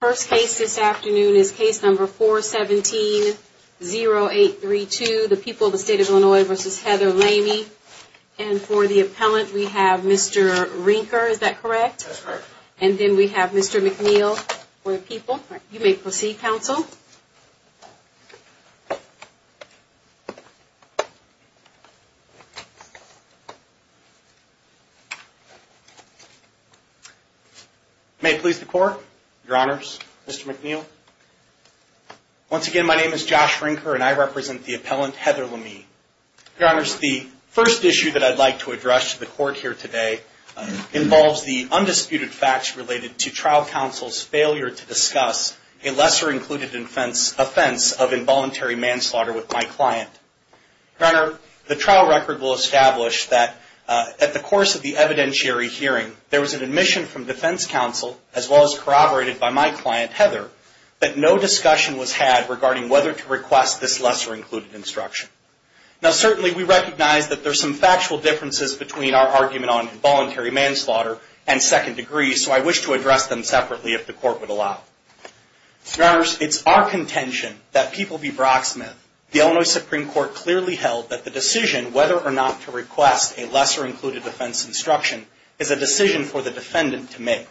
First case this afternoon is case number 417-0832, the people of the state of Illinois versus Heather Lamie. And for the appellant, we have Mr. Rinker, is that correct? And then we have Mr. McNeil for the people. You may proceed, counsel. May it please the court, your honors, Mr. McNeil. Once again, my name is Josh Rinker and I represent the appellant Heather Lamie. Your honors, the first issue that I'd like to address to the court here today involves the undisputed facts related to trial counsel's failure to discuss a lesser included offense of involuntary manslaughter with my client. Your honor, the trial record will establish that at the course of the evidentiary hearing, there was an admission from defense counsel as well as corroborated by my client, Heather, that no discussion was had regarding whether to request this lesser included instruction. Now certainly we recognize that there's some factual differences between our argument on involuntary manslaughter and second degree, so I wish to address them separately if the court would allow. Your honors, it's our contention that People v. Brocksmith, the Illinois Supreme Court clearly held that the decision whether or not to request a lesser included offense instruction is a decision for the defendant to make.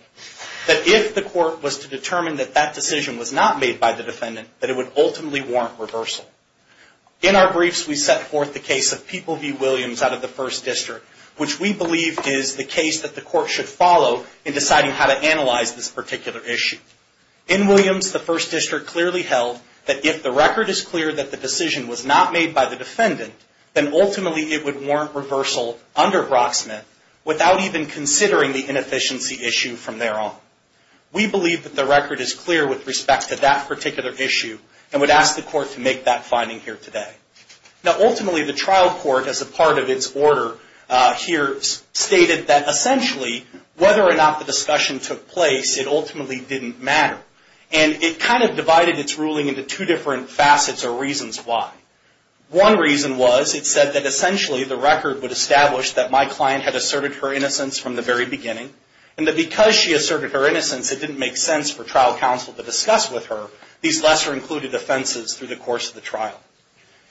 That if the court was to determine that that decision was not made by the defendant, that it would ultimately warrant reversal. In our briefs, we set forth the case of People v. Williams out of the First District, which we believe is the case that the court should follow in deciding how to analyze this particular issue. In Williams, the First District clearly held that if the record is clear that the decision was not made by the defendant, then ultimately it would warrant reversal under Brocksmith without even considering the inefficiency issue from there on. We believe that the record is clear with respect to that particular issue and would ask the court to make that finding here today. Now ultimately, the trial court as a part of its order here stated that essentially whether or not the discussion took place, it ultimately didn't matter. And it kind of divided its ruling into two different facets or reasons why. One reason was it said that essentially the record would establish that my client had asserted her innocence from the very beginning and that because she asserted her innocence, it didn't make sense for trial counsel to discuss with her these lesser included offenses through the course of the trial.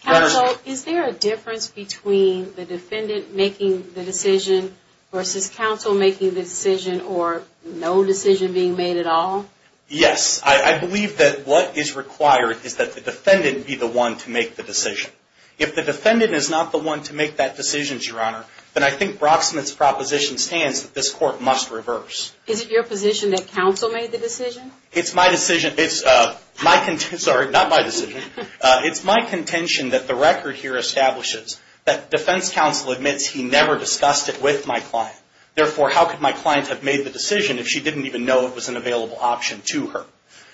Counsel, is there a difference between the defendant making the decision versus counsel making the decision or no decision being made at all? Yes. I believe that what is required is that the defendant be the one to make the decision. If the defendant is not the one to make that decision, Your Honor, then I think Brocksmith's proposition stands that this court must reverse. Is it your position that counsel made the decision? It's my decision. Sorry, not my decision. It's my contention that the record here establishes that defense counsel admits he never discussed it with my client. Therefore, how could my client have made the decision if she didn't even know it was an available option to her?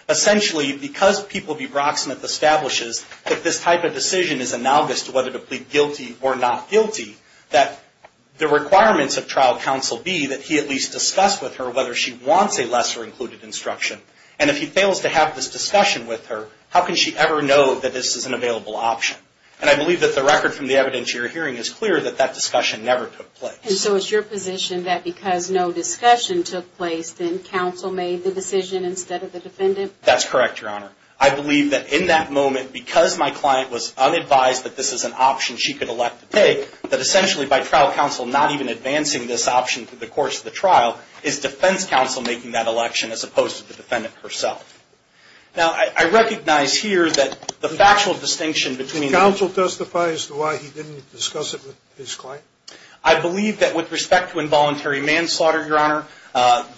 Essentially, because People v. Brocksmith establishes that this type of decision is analogous to whether to plead guilty or not guilty, that the requirements of trial counsel be that he at least discuss with her whether she wants a lesser included instruction. And if he fails to have this discussion with her, how can she ever know that this is an available option? And I believe that the record from the evidence you're hearing is clear that that discussion never took place. And so it's your position that because no discussion took place, then counsel made the decision instead of the defendant? That's correct, Your Honor. I believe that in that moment, because my client was unadvised that this is an option she could elect to take, that essentially by trial counsel not even advancing this option through the course of the trial is defense counsel making that election as opposed to the defendant herself. Now, I recognize here that the factual distinction between the two Did counsel testify as to why he didn't discuss it with his client? I believe that with respect to involuntary manslaughter, Your Honor,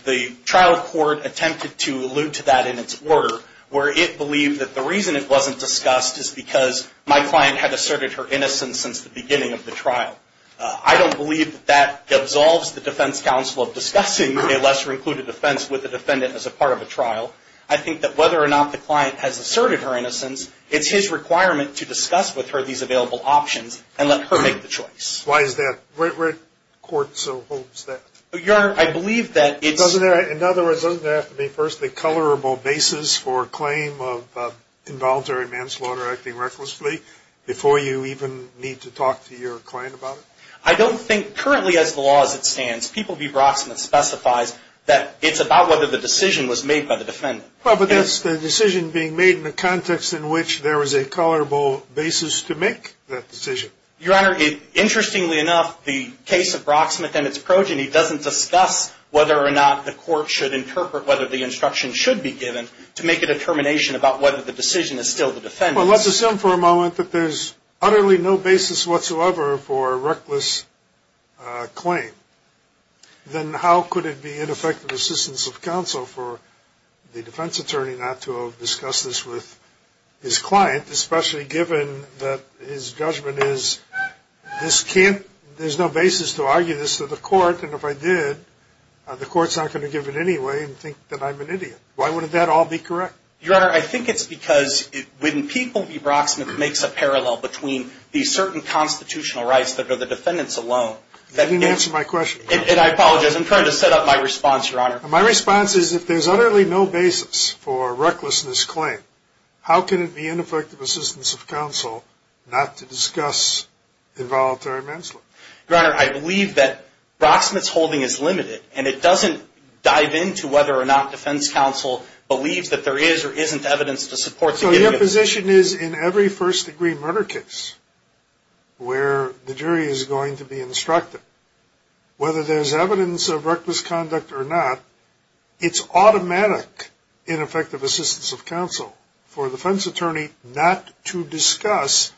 the trial court attempted to allude to that in its order, where it believed that the reason it wasn't discussed is because my client had asserted her innocence since the beginning of the trial. I don't believe that that absolves the defense counsel of discussing a lesser included offense with a defendant as a part of a trial. I think that whether or not the client has asserted her innocence, it's his requirement to discuss with her these available options and let her make the choice. Why is that? Where do courts hold that? Your Honor, I believe that it's In other words, doesn't there have to be first a colorable basis for a claim of involuntary manslaughter acting recklessly before you even need to talk to your client about it? I don't think currently as the law as it stands, People v. Brocksmith specifies that it's about whether the decision was made by the defendant. Well, but that's the decision being made in the context in which there is a colorable basis to make that decision. Your Honor, interestingly enough, the case of Brocksmith and its progeny doesn't discuss whether or not the court should interpret whether the instruction should be given to make a determination about whether the decision is still the defendant's. Well, let's assume for a moment that there's utterly no basis whatsoever for a reckless claim. Then how could it be ineffective assistance of counsel for the defense attorney not to have discussed this with his client, especially given that his judgment is this can't, there's no basis to argue this to the court. And if I did, the court's not going to give it anyway and think that I'm an idiot. Why wouldn't that all be correct? Your Honor, I think it's because when People v. Brocksmith makes a parallel between these certain constitutional rights that are the defendant's alone. You didn't answer my question. And I apologize. I'm trying to set up my response, Your Honor. My response is if there's utterly no basis for a recklessness claim, how can it be ineffective assistance of counsel not to discuss involuntary manslaughter? Your Honor, I believe that Brocksmith's holding is limited and it doesn't dive into whether or not defense counsel believes that there is or isn't evidence to support. So your position is in every first-degree murder case where the jury is going to be instructed, whether there's evidence of reckless conduct or not, it's automatic ineffective assistance of counsel for the defense attorney not to discuss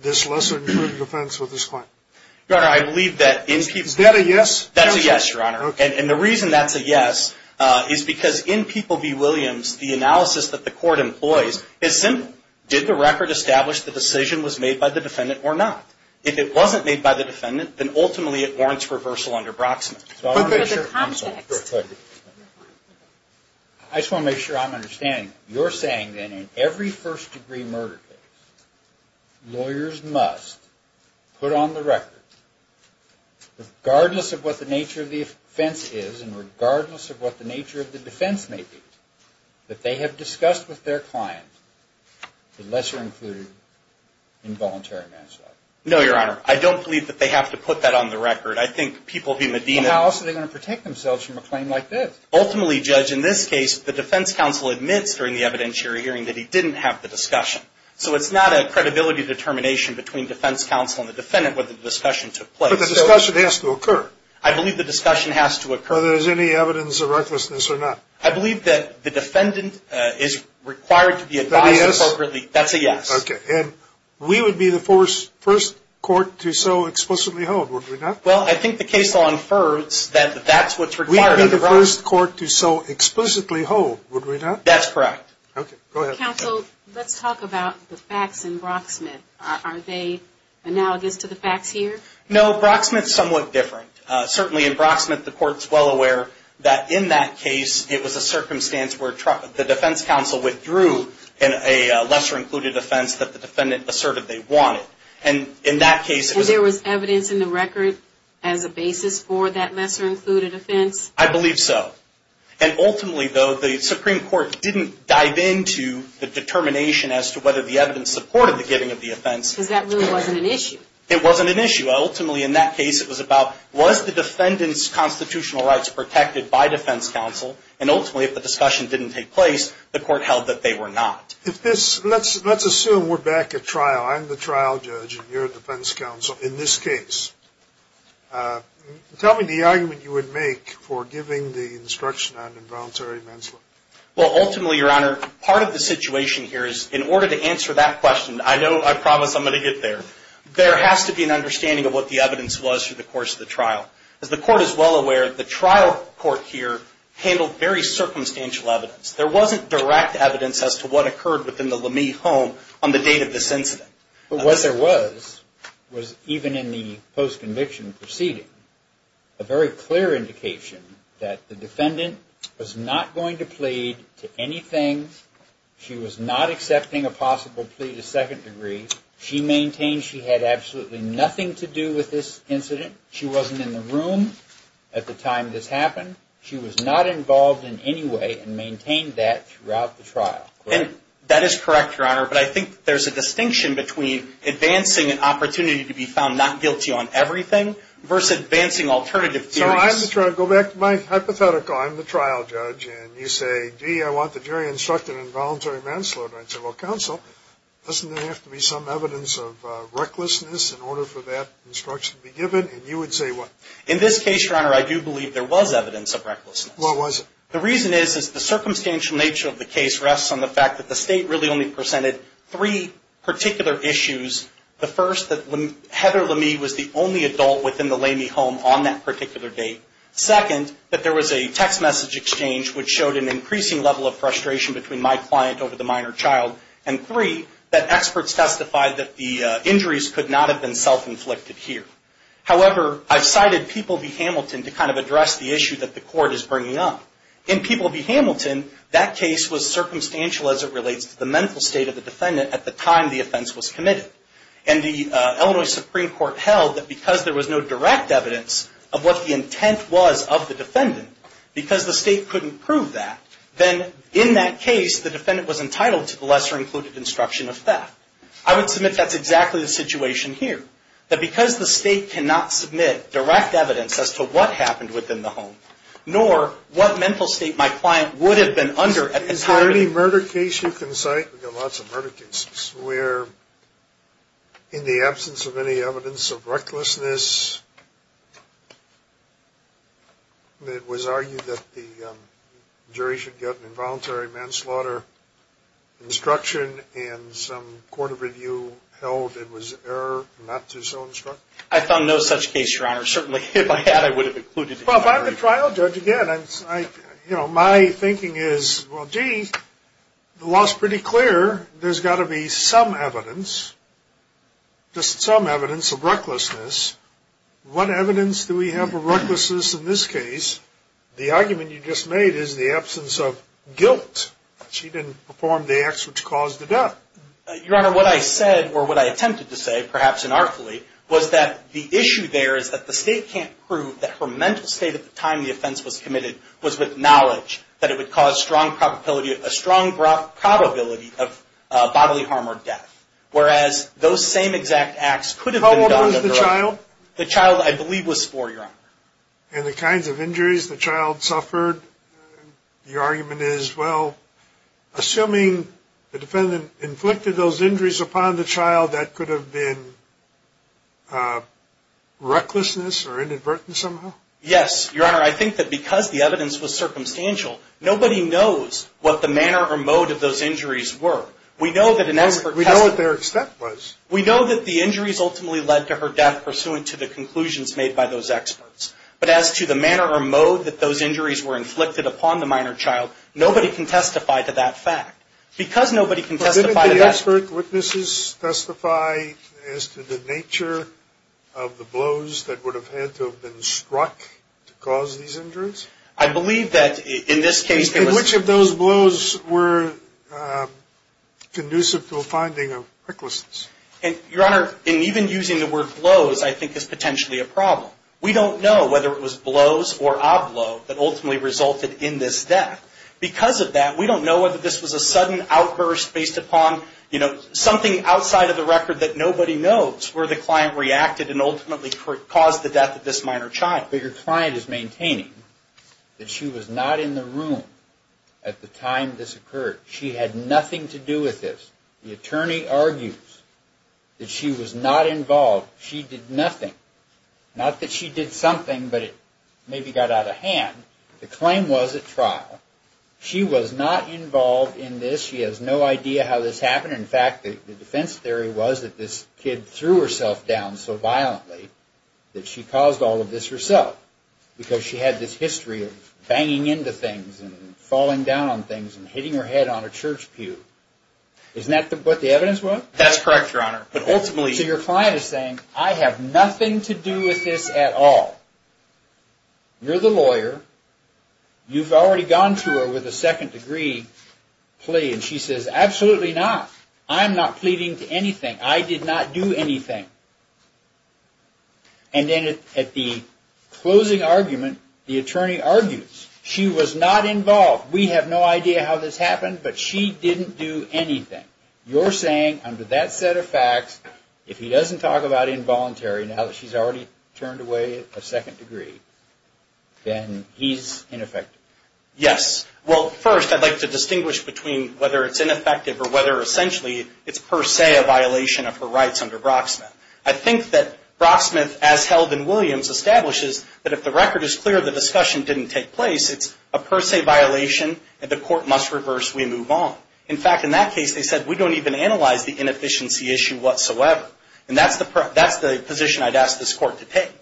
this lesser-than-true defense with his client. Your Honor, I believe that in people... Is that a yes? That's a yes, Your Honor. Okay. And the reason that's a yes is because in People v. Williams, the analysis that the court employs is simple. Did the record establish the decision was made by the defendant or not? If it wasn't made by the defendant, then ultimately it warrants reversal under Brocksmith. But there's a context. I just want to make sure I'm understanding. You're saying that in every first-degree murder case, lawyers must put on the record, regardless of what the nature of the offense is and regardless of what the nature of the defense may be, that they have discussed with their client the lesser-included involuntary manslaughter? No, Your Honor. I don't believe that they have to put that on the record. I think People v. Medina... Well, how else are they going to protect themselves from a claim like this? Ultimately, Judge, in this case, the defense counsel admits during the evidentiary hearing that he didn't have the discussion. So it's not a credibility determination between defense counsel and the defendant whether the discussion took place. But the discussion has to occur. I believe the discussion has to occur. Whether there's any evidence of recklessness or not. I believe that the defendant is required to be advised appropriately. That's a yes? That's a yes. Okay. And we would be the first court to so explicitly hold, would we not? Well, I think the case law infers that that's what's required under Brocksmith. We'd be the first court to so explicitly hold, would we not? That's correct. Okay. Go ahead. Counsel, let's talk about the facts in Brocksmith. Are they analogous to the facts here? No. Brocksmith's somewhat different. Certainly, in Brocksmith, the court's well aware that in that case, it was a circumstance where the defense counsel withdrew in a lesser-included offense that the defendant asserted they wanted. And in that case, it was... And there was evidence in the record as a basis for that lesser-included offense? I believe so. And ultimately, though, the Supreme Court didn't dive into the determination as to whether the evidence supported the giving of the offense. Because that really wasn't an issue. It wasn't an issue. Ultimately, in that case, it was about, was the defendant's constitutional rights protected by defense counsel? And ultimately, if the discussion didn't take place, the court held that they were not. If this... Let's assume we're back at trial. I'm the trial judge and you're a defense counsel in this case. Tell me the argument you would make for giving the instruction on involuntary manslaughter. Well, ultimately, Your Honor, part of the situation here is, in order to answer that question, I know, I promise I'm going to get there. There has to be an understanding of what the evidence was through the course of the trial. As the court is well aware, the trial court here handled very circumstantial evidence. There wasn't direct evidence as to what occurred within the Lamy home on the date of this incident. But what there was, was even in the post-conviction proceeding, a very clear indication that the defendant was not going to plead to anything. She was not accepting a possible plea to second degree. She maintained she had absolutely nothing to do with this incident. She wasn't in the room at the time this happened. She was not involved in any way and maintained that throughout the trial. And that is correct, Your Honor, but I think there's a distinction between advancing an opportunity to be found not guilty on everything versus advancing alternative theories. So I'm the trial... Go back to my hypothetical. I'm the trial judge and you say, gee, I want the jury instructed on involuntary manslaughter. I say, well, counsel, doesn't there have to be some evidence of recklessness in order for that instruction to be given? And you would say what? In this case, Your Honor, I do believe there was evidence of recklessness. What was it? The reason is, is the circumstantial nature of the case rests on the fact that the state really only presented three particular issues. The first, that Heather Lamy was the only adult within the Lamy home on that particular date. Second, that there was a text message exchange which showed an increasing level of frustration between my client over the minor child. And three, that experts testified that the injuries could not have been self-inflicted here. However, I've cited People v. Hamilton to kind of address the issue that the court is bringing up. In People v. Hamilton, that case was circumstantial as it relates to the mental state of the defendant at the time the offense was committed. And the Illinois Supreme Court held that because there was no direct evidence of what the intent was of the defendant, because the state couldn't prove that, then in that case, the defendant was entitled to the lesser-included instruction of theft. I would submit that's exactly the situation here. That because the state cannot submit direct evidence as to what happened within the home, nor what mental state my client would have been under at the time. Is there any murder case you can cite? We've got lots of murder cases where, in the absence of any evidence of recklessness, it was argued that the jury should get an involuntary manslaughter instruction and some court of review held it was error not to so instruct. I found no such case, Your Honor. Certainly, if I had, I would have included it. Well, if I'm the trial judge, again, my thinking is, well, gee, the law's pretty clear. There's got to be some evidence, just some evidence of recklessness. What evidence do we have of recklessness in this case? The argument you just made is the absence of guilt. She didn't perform the acts which caused the death. Your Honor, what I said, or what I attempted to say, perhaps inartfully, was that the issue there is that the state can't prove that her mental state at the time the offense was committed was with knowledge that it would cause a strong probability of bodily harm or death. Whereas, those same exact acts could have been done at the right time. How old was the child? The child, I believe, was four, Your Honor. And the kinds of injuries the child suffered, your argument is, well, assuming the defendant inflicted those injuries upon the child, that could have been recklessness or inadvertence somehow? Yes, Your Honor. I think that because the evidence was circumstantial, nobody knows what the manner or mode of those injuries were. We know that an expert... We know what their extent was. We know that the injuries ultimately led to her death pursuant to the conclusions made by those experts. But as to the manner or mode that those injuries were inflicted upon the minor child, nobody can testify to that fact. Because nobody can testify to that... But didn't the expert witnesses testify as to the nature of the blows that would have had to have been struck to cause these injuries? I believe that in this case... Which of those blows were conducive to a finding of recklessness? Your Honor, in even using the word blows, I think is potentially a problem. We don't know whether it was blows or a blow that ultimately resulted in this death. Because of that, we don't know whether this was a sudden outburst based upon something outside of the record that nobody knows where the client reacted and ultimately caused the death of this minor child. But your client is maintaining that she was not in the room at the time this occurred. She had nothing to do with this. The attorney argues that she was not involved. She did nothing. Not that she did something, but it maybe got out of hand. The claim was at trial. She was not involved in this. She has no idea how this happened. In fact, the defense theory was that this kid threw herself down so violently that she caused all of this herself. Because she had this history of banging into things and falling down on things and hitting her head on a church pew. Isn't that what the evidence was? That's correct, Your Honor. But ultimately... So your client is saying, I have nothing to do with this at all. You're the lawyer. You've already gone to her with a second degree plea. And she says, absolutely not. I'm not pleading to anything. I did not do anything. And then at the closing argument, the attorney argues, she was not involved. We have no idea how this happened, but she didn't do anything. You're saying, under that set of facts, if he doesn't talk about involuntary, now that she's already turned away a second degree, then he's ineffective. Yes. Well, first, I'd like to distinguish between whether it's ineffective or whether, essentially, it's per se a violation of her rights under Brocksmith. I think that Brocksmith, as held in Williams, establishes that if the record is clear the discussion didn't take place, it's a per se violation and the court must reverse. We move on. In fact, in that case, they said, we don't even analyze the inefficiency issue whatsoever. And that's the position I'd ask this court to take.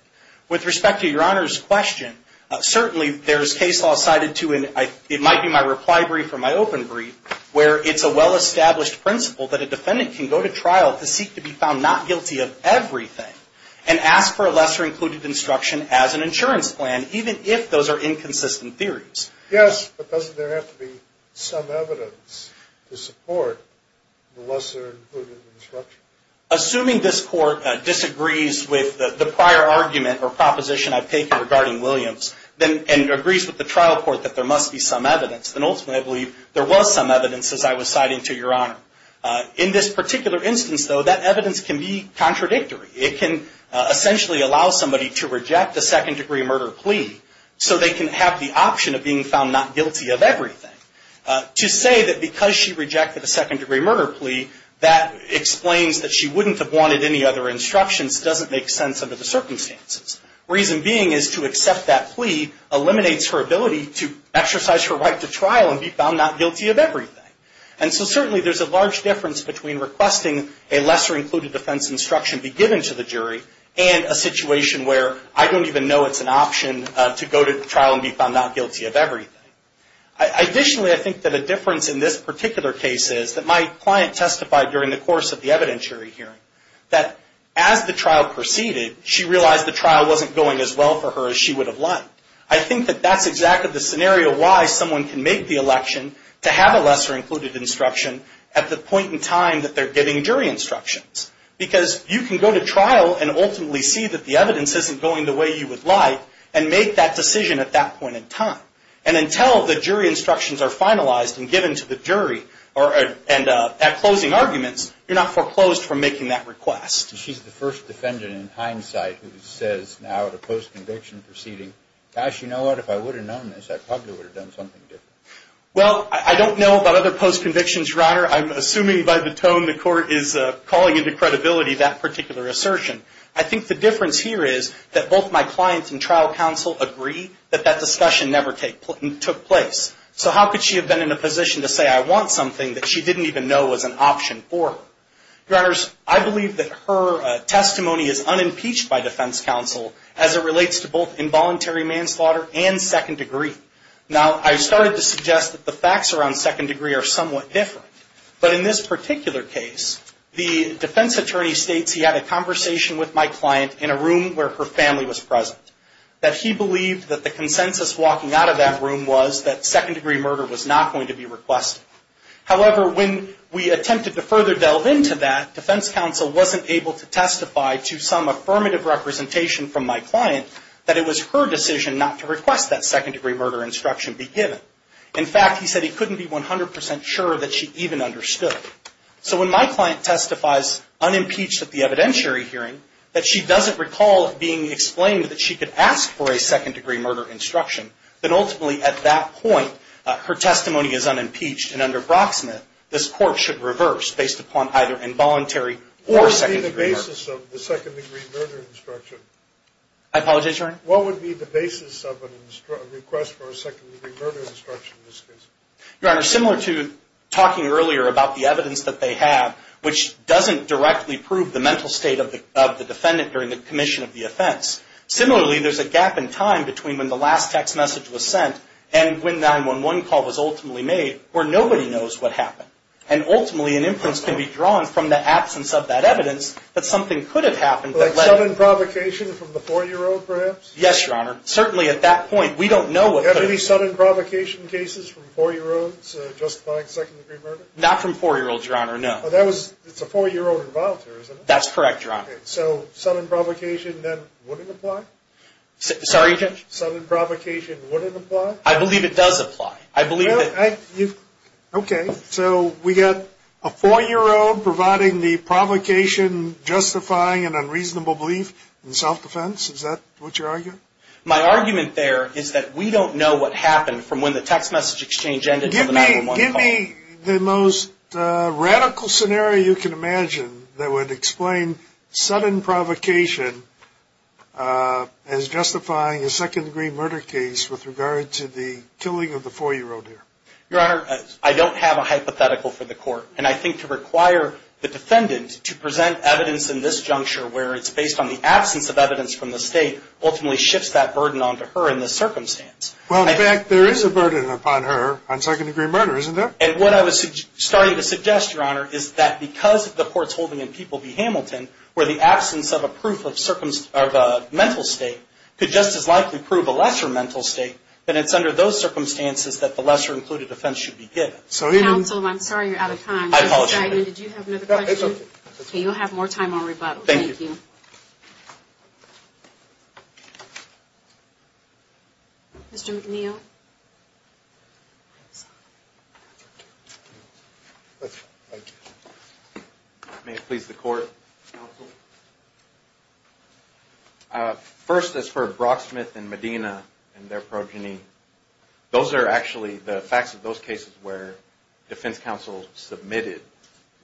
With respect to Your Honor's question, certainly there's case law cited to, and it might be my reply brief or my open brief, where it's a well-established principle that a defendant can go to trial to seek to be found not guilty of everything and ask for a lesser included instruction as an insurance plan, even if those are inconsistent theories. Yes, but doesn't there have to be some evidence to support the lesser included instruction? Assuming this court disagrees with the prior argument or proposition I've taken regarding Williams and agrees with the trial court that there must be some evidence, then ultimately I believe there was some evidence, as I was citing to Your Honor. In this particular instance, though, that evidence can be contradictory. It can essentially allow somebody to reject a second degree murder plea so they can have the option of being found not guilty of everything. To say that because she rejected a second degree murder plea, that explains that she wouldn't have wanted any other instructions doesn't make sense under the circumstances. Reason being is to accept that plea eliminates her ability to exercise her right to trial and be found not guilty of everything. So certainly there's a large difference between requesting a lesser included defense instruction be given to the jury and a situation where I don't even know it's an option to go to trial and be found not guilty of everything. Additionally, I think that a difference in this particular case is that my client testified during the course of the evidentiary hearing that as the trial proceeded, she realized the trial wasn't going as well for her as she would have liked. I think that that's exactly the scenario why someone can make the election to have a lesser included instruction at the point in time that they're giving jury instructions. Because you can go to trial and ultimately see that the evidence isn't going the way you would like and make that decision at that point in time. And until the jury instructions are finalized and given to the jury and at closing arguments, you're not foreclosed from making that request. She's the first defendant in hindsight who says now about a post-conviction proceeding, gosh, you know what, if I would have known this, I probably would have done something different. Well, I don't know about other post-convictions, Your Honor. I'm assuming by the tone the court is calling into credibility that particular assertion. I think the difference here is that both my clients and trial counsel agree that that discussion never took place. So how could she have been in a position to say I want something that she didn't even know was an option for her? Your Honors, I believe that her testimony is unimpeached by defense counsel as it relates to both involuntary manslaughter and second degree. Now, I started to suggest that the facts around second degree are somewhat different. But in this particular case, the defense attorney states he had a conversation with my client in a room where her family was present. That he believed that the consensus walking out of that room was that second degree murder was not going to be requested. However, when we attempted to further delve into that, defense counsel wasn't able to testify to some affirmative representation from my client that it was her decision not to request that second degree murder instruction be given. In fact, he said he couldn't be 100% sure that she even understood. So when my client testifies unimpeached at the evidentiary hearing that she doesn't recall it being explained that she could ask for a second degree murder instruction, then ultimately at that point her testimony is unimpeached and under Brocksmith this court should reverse based upon either involuntary or second degree murder. I apologize, Your Honor. What would be the basis of a request for a second degree murder instruction in this case? Your Honor, similar to talking earlier about the evidence that they have, which doesn't directly prove the mental state of the defendant during the commission of the offense. Similarly, there's a gap in time between when the last text message was sent and when 911 call was ultimately made where nobody knows what happened. And ultimately an inference can be drawn from the absence of that evidence that something could have happened. Like sudden provocation from the 4-year-old perhaps? Yes, Your Honor. Certainly at that point we don't know what could have happened. Any sudden provocation cases from 4-year-olds justifying second degree murder? Not from 4-year-olds, Your Honor, no. It's a 4-year-old involuntary, isn't it? That's correct, Your Honor. So sudden provocation then wouldn't apply? Sorry, Judge? Sudden provocation wouldn't apply? I believe it does apply. Okay, so we've got a 4-year-old providing the provocation justifying an unreasonable belief in self-defense. Is that what you're arguing? My argument there is that we don't know what happened from when the text message exchange ended to the 911 call. Give me the most radical scenario you can imagine that would explain sudden provocation as justifying a second degree murder case with regard to the killing of the 4-year-old here? Your Honor, I don't have a hypothetical for the court. And I think to require the defendant to present evidence in this juncture where it's based on the absence of evidence from the state ultimately shifts that burden onto her in this circumstance. Well, in fact, there is a burden upon her on second degree murder, isn't there? And what I was starting to suggest, Your Honor, is that because of the courts holding in People v. Hamilton where the absence of a mental state could just as likely prove a lesser mental state then it's under those circumstances that the lesser included offense should be given. Counsel, I'm sorry you're out of time. I apologize. Did you have another question? No, it's okay. Okay, you'll have more time on rebuttal. Thank you. Mr. McNeil. May it please the Court, Counsel. First, as for Brocksmith and Medina and their progeny, those are actually the facts of those cases where defense counsel submitted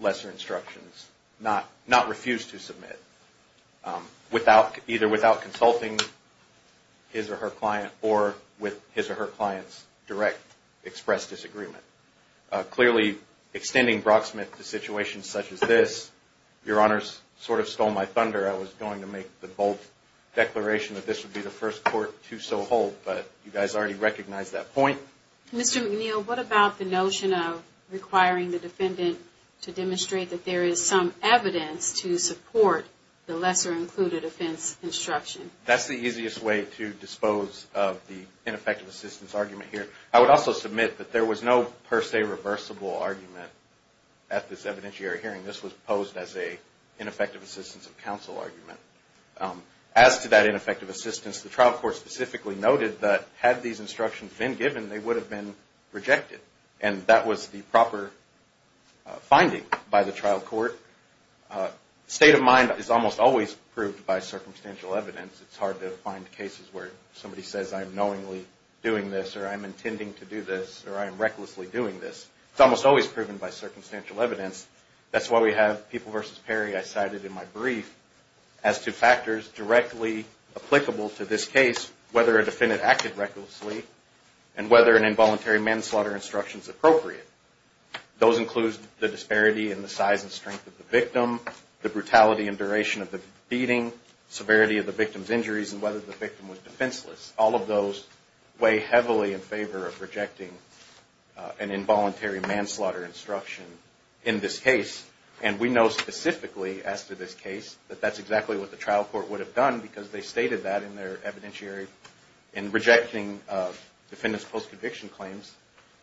lesser instructions, not refused to submit, either without consulting his or her client or with his or her client's direct expressed disagreement. Clearly, extending Brocksmith to situations such as this, Your Honors sort of stole my thunder. I was going to make the bold declaration that this would be the first court to so hold, but you guys already recognized that point. Mr. McNeil, what about the notion of requiring the defendant to demonstrate that there is some evidence to support the lesser included offense instruction? That's the easiest way to dispose of the ineffective assistance argument here. I would also submit that there was no per se reversible argument at this evidentiary hearing. This was posed as an ineffective assistance of counsel argument. As to that ineffective assistance, the trial court specifically noted that had these instructions been given, they would have been rejected. And that was the proper finding by the trial court. State of mind is almost always proved by circumstantial evidence. It's hard to find cases where somebody says, I'm knowingly doing this or I'm intending to do this or I am recklessly doing this. It's almost always proven by circumstantial evidence. That's why we have People v. Perry, I cited in my brief, as two factors directly applicable to this case, whether a defendant acted recklessly and whether an involuntary manslaughter instruction is appropriate. Those include the disparity in the size and strength of the victim, the brutality and duration of the beating, severity of the victim's injuries and whether the victim was defenseless. All of those weigh heavily in favor of rejecting an involuntary manslaughter instruction in this case. And we know specifically as to this case that that's exactly what the trial court would have done because they stated that in their evidentiary in rejecting defendant's post-conviction claims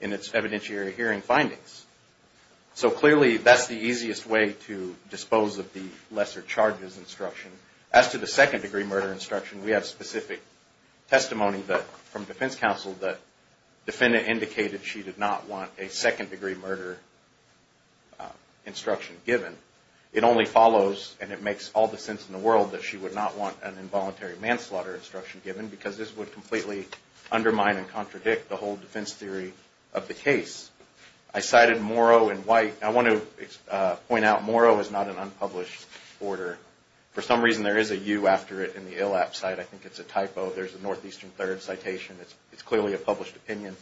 in its evidentiary hearing findings. So clearly that's the easiest way to dispose of the lesser charges instruction. As to the second degree murder instruction, we have specific testimony from defense counsel that defendant indicated she did not want a second degree murder instruction given. It only follows and it makes all the sense in the world that she would not want an involuntary manslaughter instruction given because this would completely undermine and contradict the whole defense theory of the case. I cited Morrow and White. I want to point out Morrow is not an unpublished order. For some reason there is a U after it in the ILAP site. I think it's a typo. There's a northeastern third citation. It's clearly a published opinion.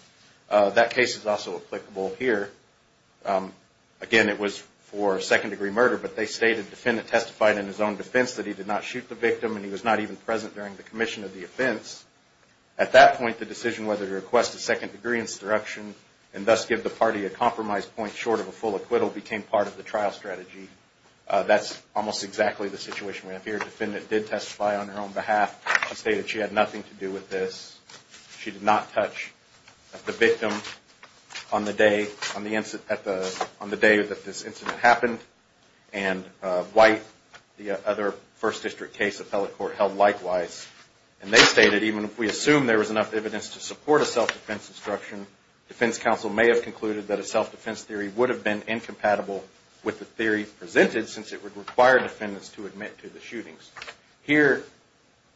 That case is also applicable here. Again, it was for second degree murder, but they stated defendant testified in his own defense that he did not shoot the victim and he was not even present during the commission of the offense. At that point, the decision whether to request a second degree instruction and thus give the party a compromise point short of a full acquittal became part of the trial strategy. That's almost exactly the situation we have here. Defendant did testify on her own behalf. She stated she had nothing to do with this. She did not touch the victim on the day that this incident happened and White the other first district case appellate court held likewise and they stated even if we assume there was enough evidence to support a self-defense instruction defense counsel may have concluded that a self-defense theory would have been incompatible with the theory presented since it would require defendants to admit to the shootings. Here,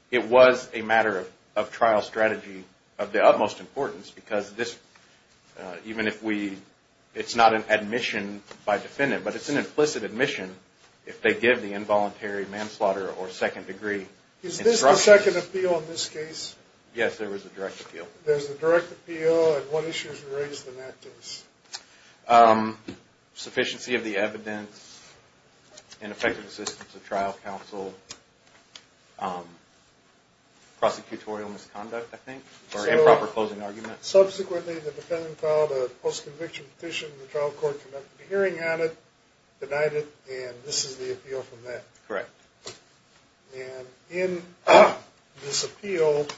it was a matter of trial strategy of the utmost importance because this, even if we it's not an admission by defendant, but it's an implicit admission if they give the involuntary manslaughter or second degree instruction. Is this the second appeal in this case? Yes, there was a direct appeal. There's a direct appeal and what issues were raised in that case? Sufficiency of the evidence and effective assistance of trial counsel prosecutorial misconduct, I think or improper closing argument. Subsequently, the defendant filed a post-conviction petition and the trial court conducted a hearing on it, denied it, and this is the appeal from that. Correct. And in this appeal the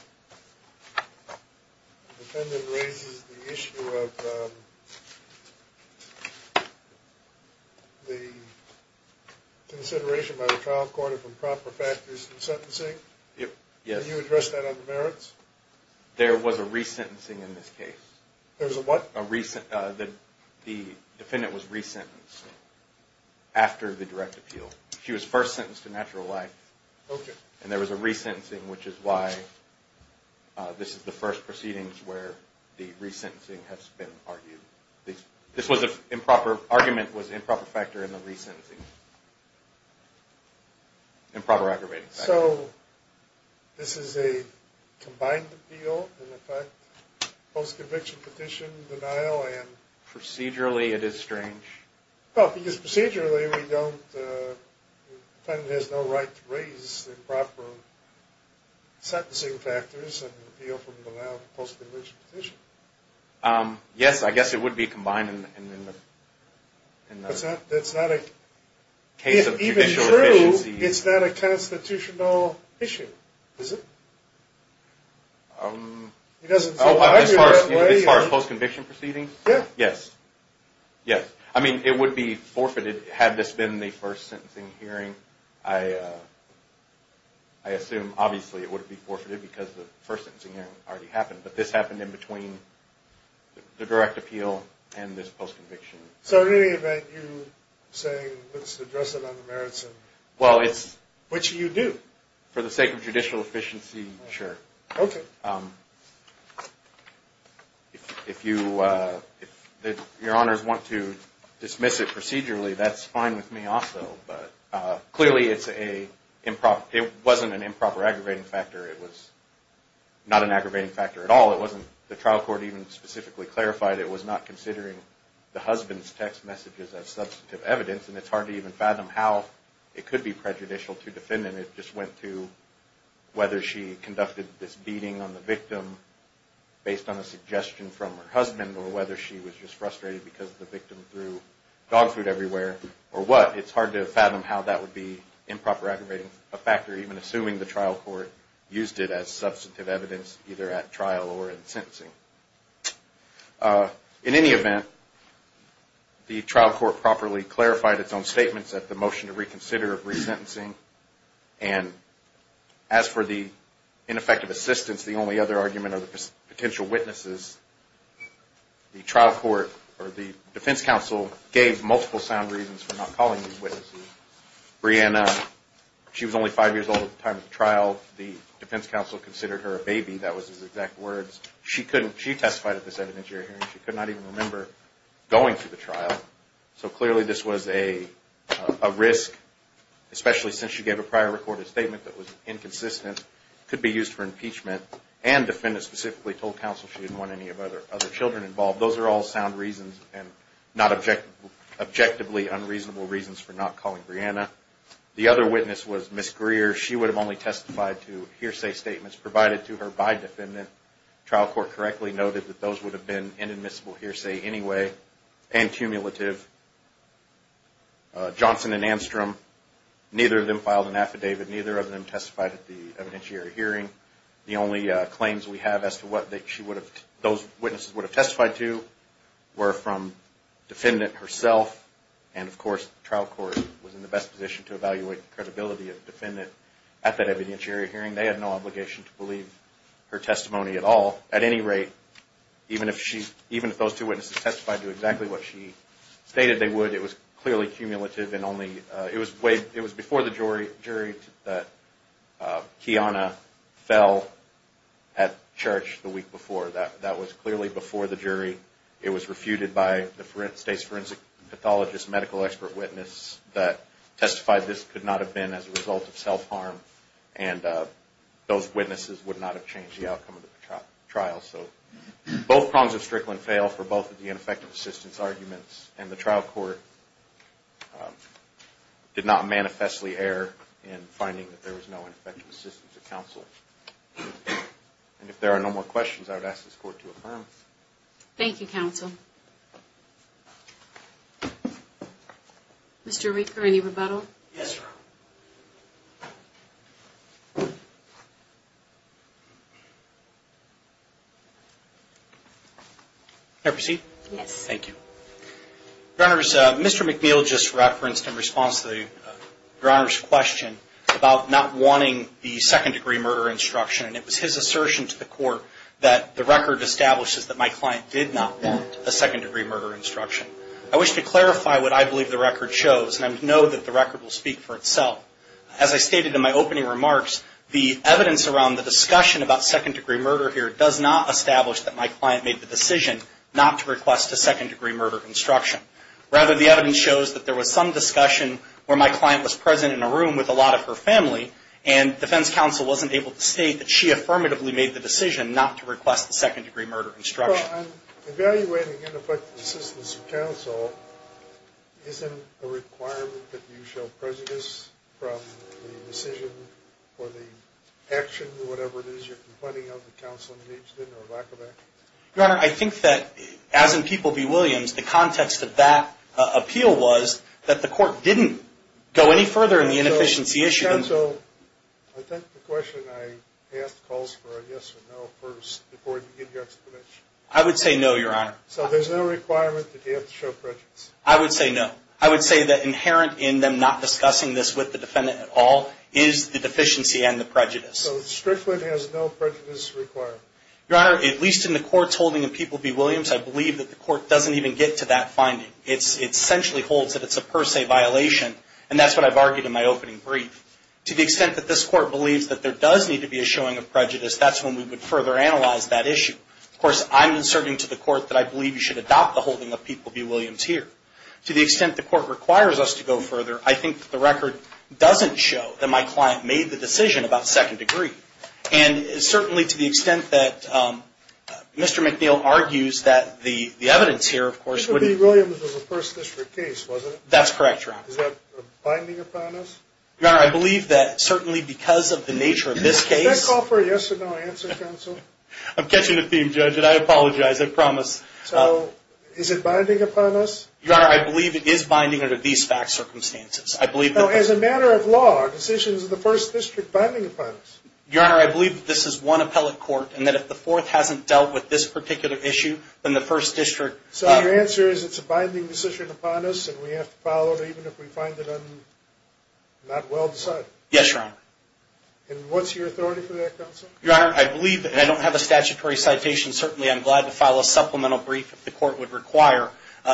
defendant raises the issue of the consideration by the trial court of improper factors in sentencing. Yes. Can you address that on the merits? There was a re-sentencing in this case. There was a what? The defendant was re-sentenced after the direct appeal. She was first sentenced to natural life and there was a re-sentencing which is why this is the first proceedings where the re-sentencing has been argued. This argument was improper factor in the re-sentencing. Improper aggravating factor. So, this is a combined appeal and in fact post-conviction petition denial and... Procedurally it is strange. Because procedurally we don't the defendant has no right to raise improper sentencing factors and appeal from the now post-conviction petition. Yes, I guess it would be combined in the... That's not a case of judicial efficiency. It's not a constitutional issue. Is it? As far as post-conviction proceedings? Yes. I mean it would be forfeited had this been the first sentencing hearing. I assume obviously it would be already happened, but this happened in between the direct appeal and this post-conviction. So, in any event, you're saying let's address it on the merits of... Well, it's... Which you do. For the sake of judicial efficiency, sure. Okay. If you if your honors want to dismiss it procedurally that's fine with me also, but clearly it's a improper it wasn't an improper aggravating factor it was not an aggravating factor at all. It wasn't... The trial court even specifically clarified it was not considering the husband's text messages as substantive evidence, and it's hard to even fathom how it could be prejudicial to defendant. It just went to whether she conducted this beating on the victim based on a suggestion from her husband or whether she was just frustrated because the victim or what. It's hard to fathom how that would be improper aggravating a factor even assuming the trial court used it as substantive evidence either at trial or in sentencing. In any event the trial court properly clarified its own statements at the motion to reconsider of resentencing and as for the ineffective assistance the only other argument are the potential witnesses the trial court or the defense council gave multiple sound reasons for not calling these witnesses. Breanna she was only 5 years old at the time of the trial the defense council considered her a baby that was his exact words she testified at this evidentiary hearing she could not even remember going through the trial so clearly this was a risk especially since she gave a prior recorded statement that was inconsistent, could be used for impeachment, and defendant specifically told counsel she didn't want any of other children involved. Those are all sound reasons and not objectively unreasonable reasons for not calling Breanna the other witness was Miss Greer she would have only testified to hearsay statements provided to her by defendant trial court correctly noted that those would have been inadmissible hearsay anyway and cumulative Johnson and Anstrom neither of them filed an affidavit, neither of them testified at the evidentiary hearing the only claims we have as to what those witnesses would have testified to were from the defendant herself and of course trial court was in the best position to evaluate the credibility of the defendant at that evidentiary hearing they had no obligation to believe her testimony at all, at any rate even if those two witnesses testified to exactly what she stated they would, it was clearly cumulative it was before the jury that Kiana fell at church the week before that was clearly before the jury it was refuted by the state's forensic pathologist medical expert witness that testified this could not have been as a result of self-harm and those witnesses would not have changed the outcome of the trial so both prongs of Strickland fail for both of the ineffective assistance arguments and the trial court did not manifestly err in finding that there was no ineffective assistance of counsel and if there are no more questions I would ask this court to affirm. Thank you counsel Mr. Rieker any rebuttal? Yes Your Honor May I proceed? Yes. Thank you Your Honor, Mr. McNeil just referenced in response to Your Honor's question about not wanting the second degree murder instruction and it was his assertion to the court that the record establishes that my client did not want a second degree murder instruction. I wish to clarify what I believe the record shows and I know that the record will speak for itself as I stated in my opening remarks the evidence around the discussion about second degree murder here does not establish that my client made the decision not to request a second degree murder instruction. Rather the evidence shows that there was some discussion where my client was present in a room with a lot of her family and defense counsel wasn't able to state that she affirmatively made the decision not to request the second degree murder instruction Well I'm evaluating in effect the assistance of counsel isn't a requirement that you show prejudice from the decision or the action or whatever it is you're complaining of the counsel needs or lack of action? Your Honor I think that as in People v. Williams the context of that appeal was that the court didn't go any further in the inefficiency issue Counsel, I think the question I asked calls for a yes or no first before you give your explanation I would say no, Your Honor So there's no requirement that you have to show prejudice I would say no. I would say that inherent in them not discussing this with the defendant at all is the deficiency and the prejudice. So Strickland has no prejudice requirement? Your Honor, at least in the courts holding in People v. Williams I believe that the court doesn't even get to that finding. It essentially holds that it's a per se violation and that's what I've argued in my opening brief To the extent that this court believes that there does need to be a showing of prejudice that's when we would further analyze that issue Of course, I'm inserting to the court that I believe you should adopt the holding of People v. Williams here. To the extent the court requires us to go further, I think that the record doesn't show that my client made the decision about second degree and certainly to the extent that Mr. McNeil argues that the evidence here Mr. B. Williams was a first district case That's correct, Your Honor Is that binding upon us? Your Honor, I believe that certainly because of the nature of this case Does that call for a yes or no answer, Counsel? I'm catching a theme, Judge and I apologize, I promise So, is it binding upon us? Your Honor, I believe it is binding under these facts circumstances. I believe that As a matter of law, are decisions of the first district binding upon us? Your Honor, I believe that this is one appellate court and that if the fourth hasn't dealt with this particular issue then the first district So, your answer is it's a binding decision upon us and we have to follow it even if we find it not well decided? Yes, Your Honor And what's your authority for that, Counsel? Your Honor, I believe, and I don't have a statutory citation, certainly I'm glad to file a supplemental brief if the court would require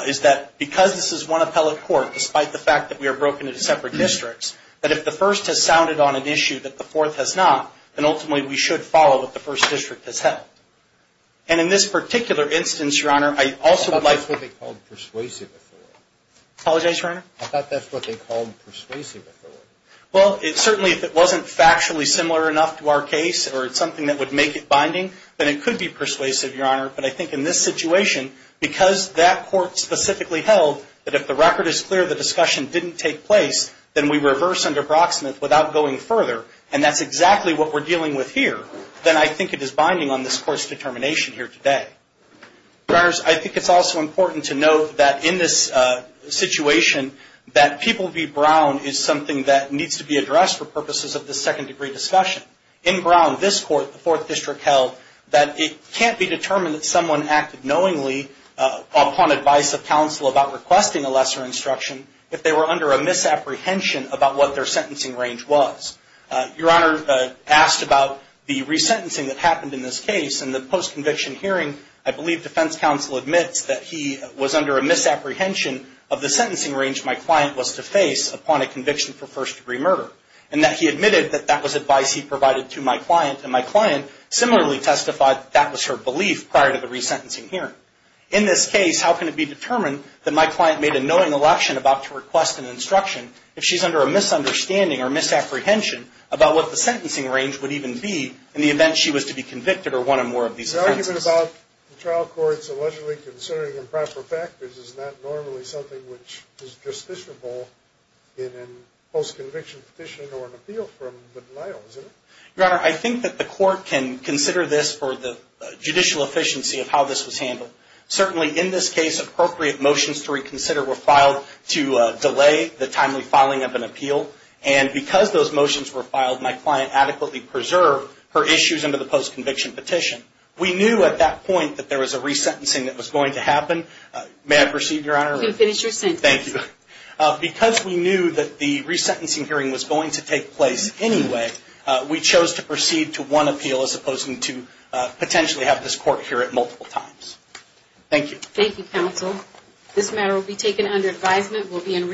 is that because this is one appellate court despite the fact that we are broken into separate districts, that if the first has sounded on an issue that the fourth has not then ultimately we should follow what the first district has held. And in this particular instance, Your Honor, I also would like I thought that's what they called persuasive authority Apologize, Your Honor? I thought that's what they called persuasive authority Well, certainly if it wasn't factually similar enough to our case or something that would make it binding, then it could be persuasive Your Honor, but I think in this situation because that court specifically held that if the record is clear the discussion didn't take place, then we reverse under Brocksmith without going further and that's exactly what we're dealing with here, then I think it is binding on this court's determination here today Your Honors, I think it's also important to note that in this situation, that People v. Brown is something that needs to be addressed for purposes of this second degree discussion In Brown, this court, the fourth district held that it can't be determined that someone acted knowingly upon advice of counsel about requesting a lesser instruction if they were under a misapprehension about what their sentencing range was Your Honor, asked about the resentencing that happened in this case in the post-conviction hearing, I believe defense counsel admits that he was under a misapprehension of the sentencing range my client was to face upon a conviction for first degree murder and that he admitted that that was advice he provided to my client, and my client similarly testified that that was her belief prior to the resentencing hearing In this case, how can it be determined that my client made a knowing election about to request an instruction if she's under a misunderstanding or misapprehension about what the sentencing range would even be in the event she was to be convicted or one or more of these offenses The argument about the trial court allegedly considering improper factors is not normally something which is justiciable in a post-conviction petition or an appeal from the denial, is it? Your Honor, I think that the court can consider this for the judicial efficiency of how this was handled. Certainly in this case, appropriate motions to reconsider were filed to delay the timely filing of an appeal and because those motions were filed my client adequately preserved her issues under the post-conviction petition We knew at that point that there was a resentencing that was going to happen May I proceed, Your Honor? You can finish your sentence Thank you. Because we knew that the resentencing hearing was going to take place anyway, we chose to proceed to one appeal as opposed to potentially have this court hear it multiple times. Thank you Thank you, Counsel. This matter will be taken under advisement. We'll be in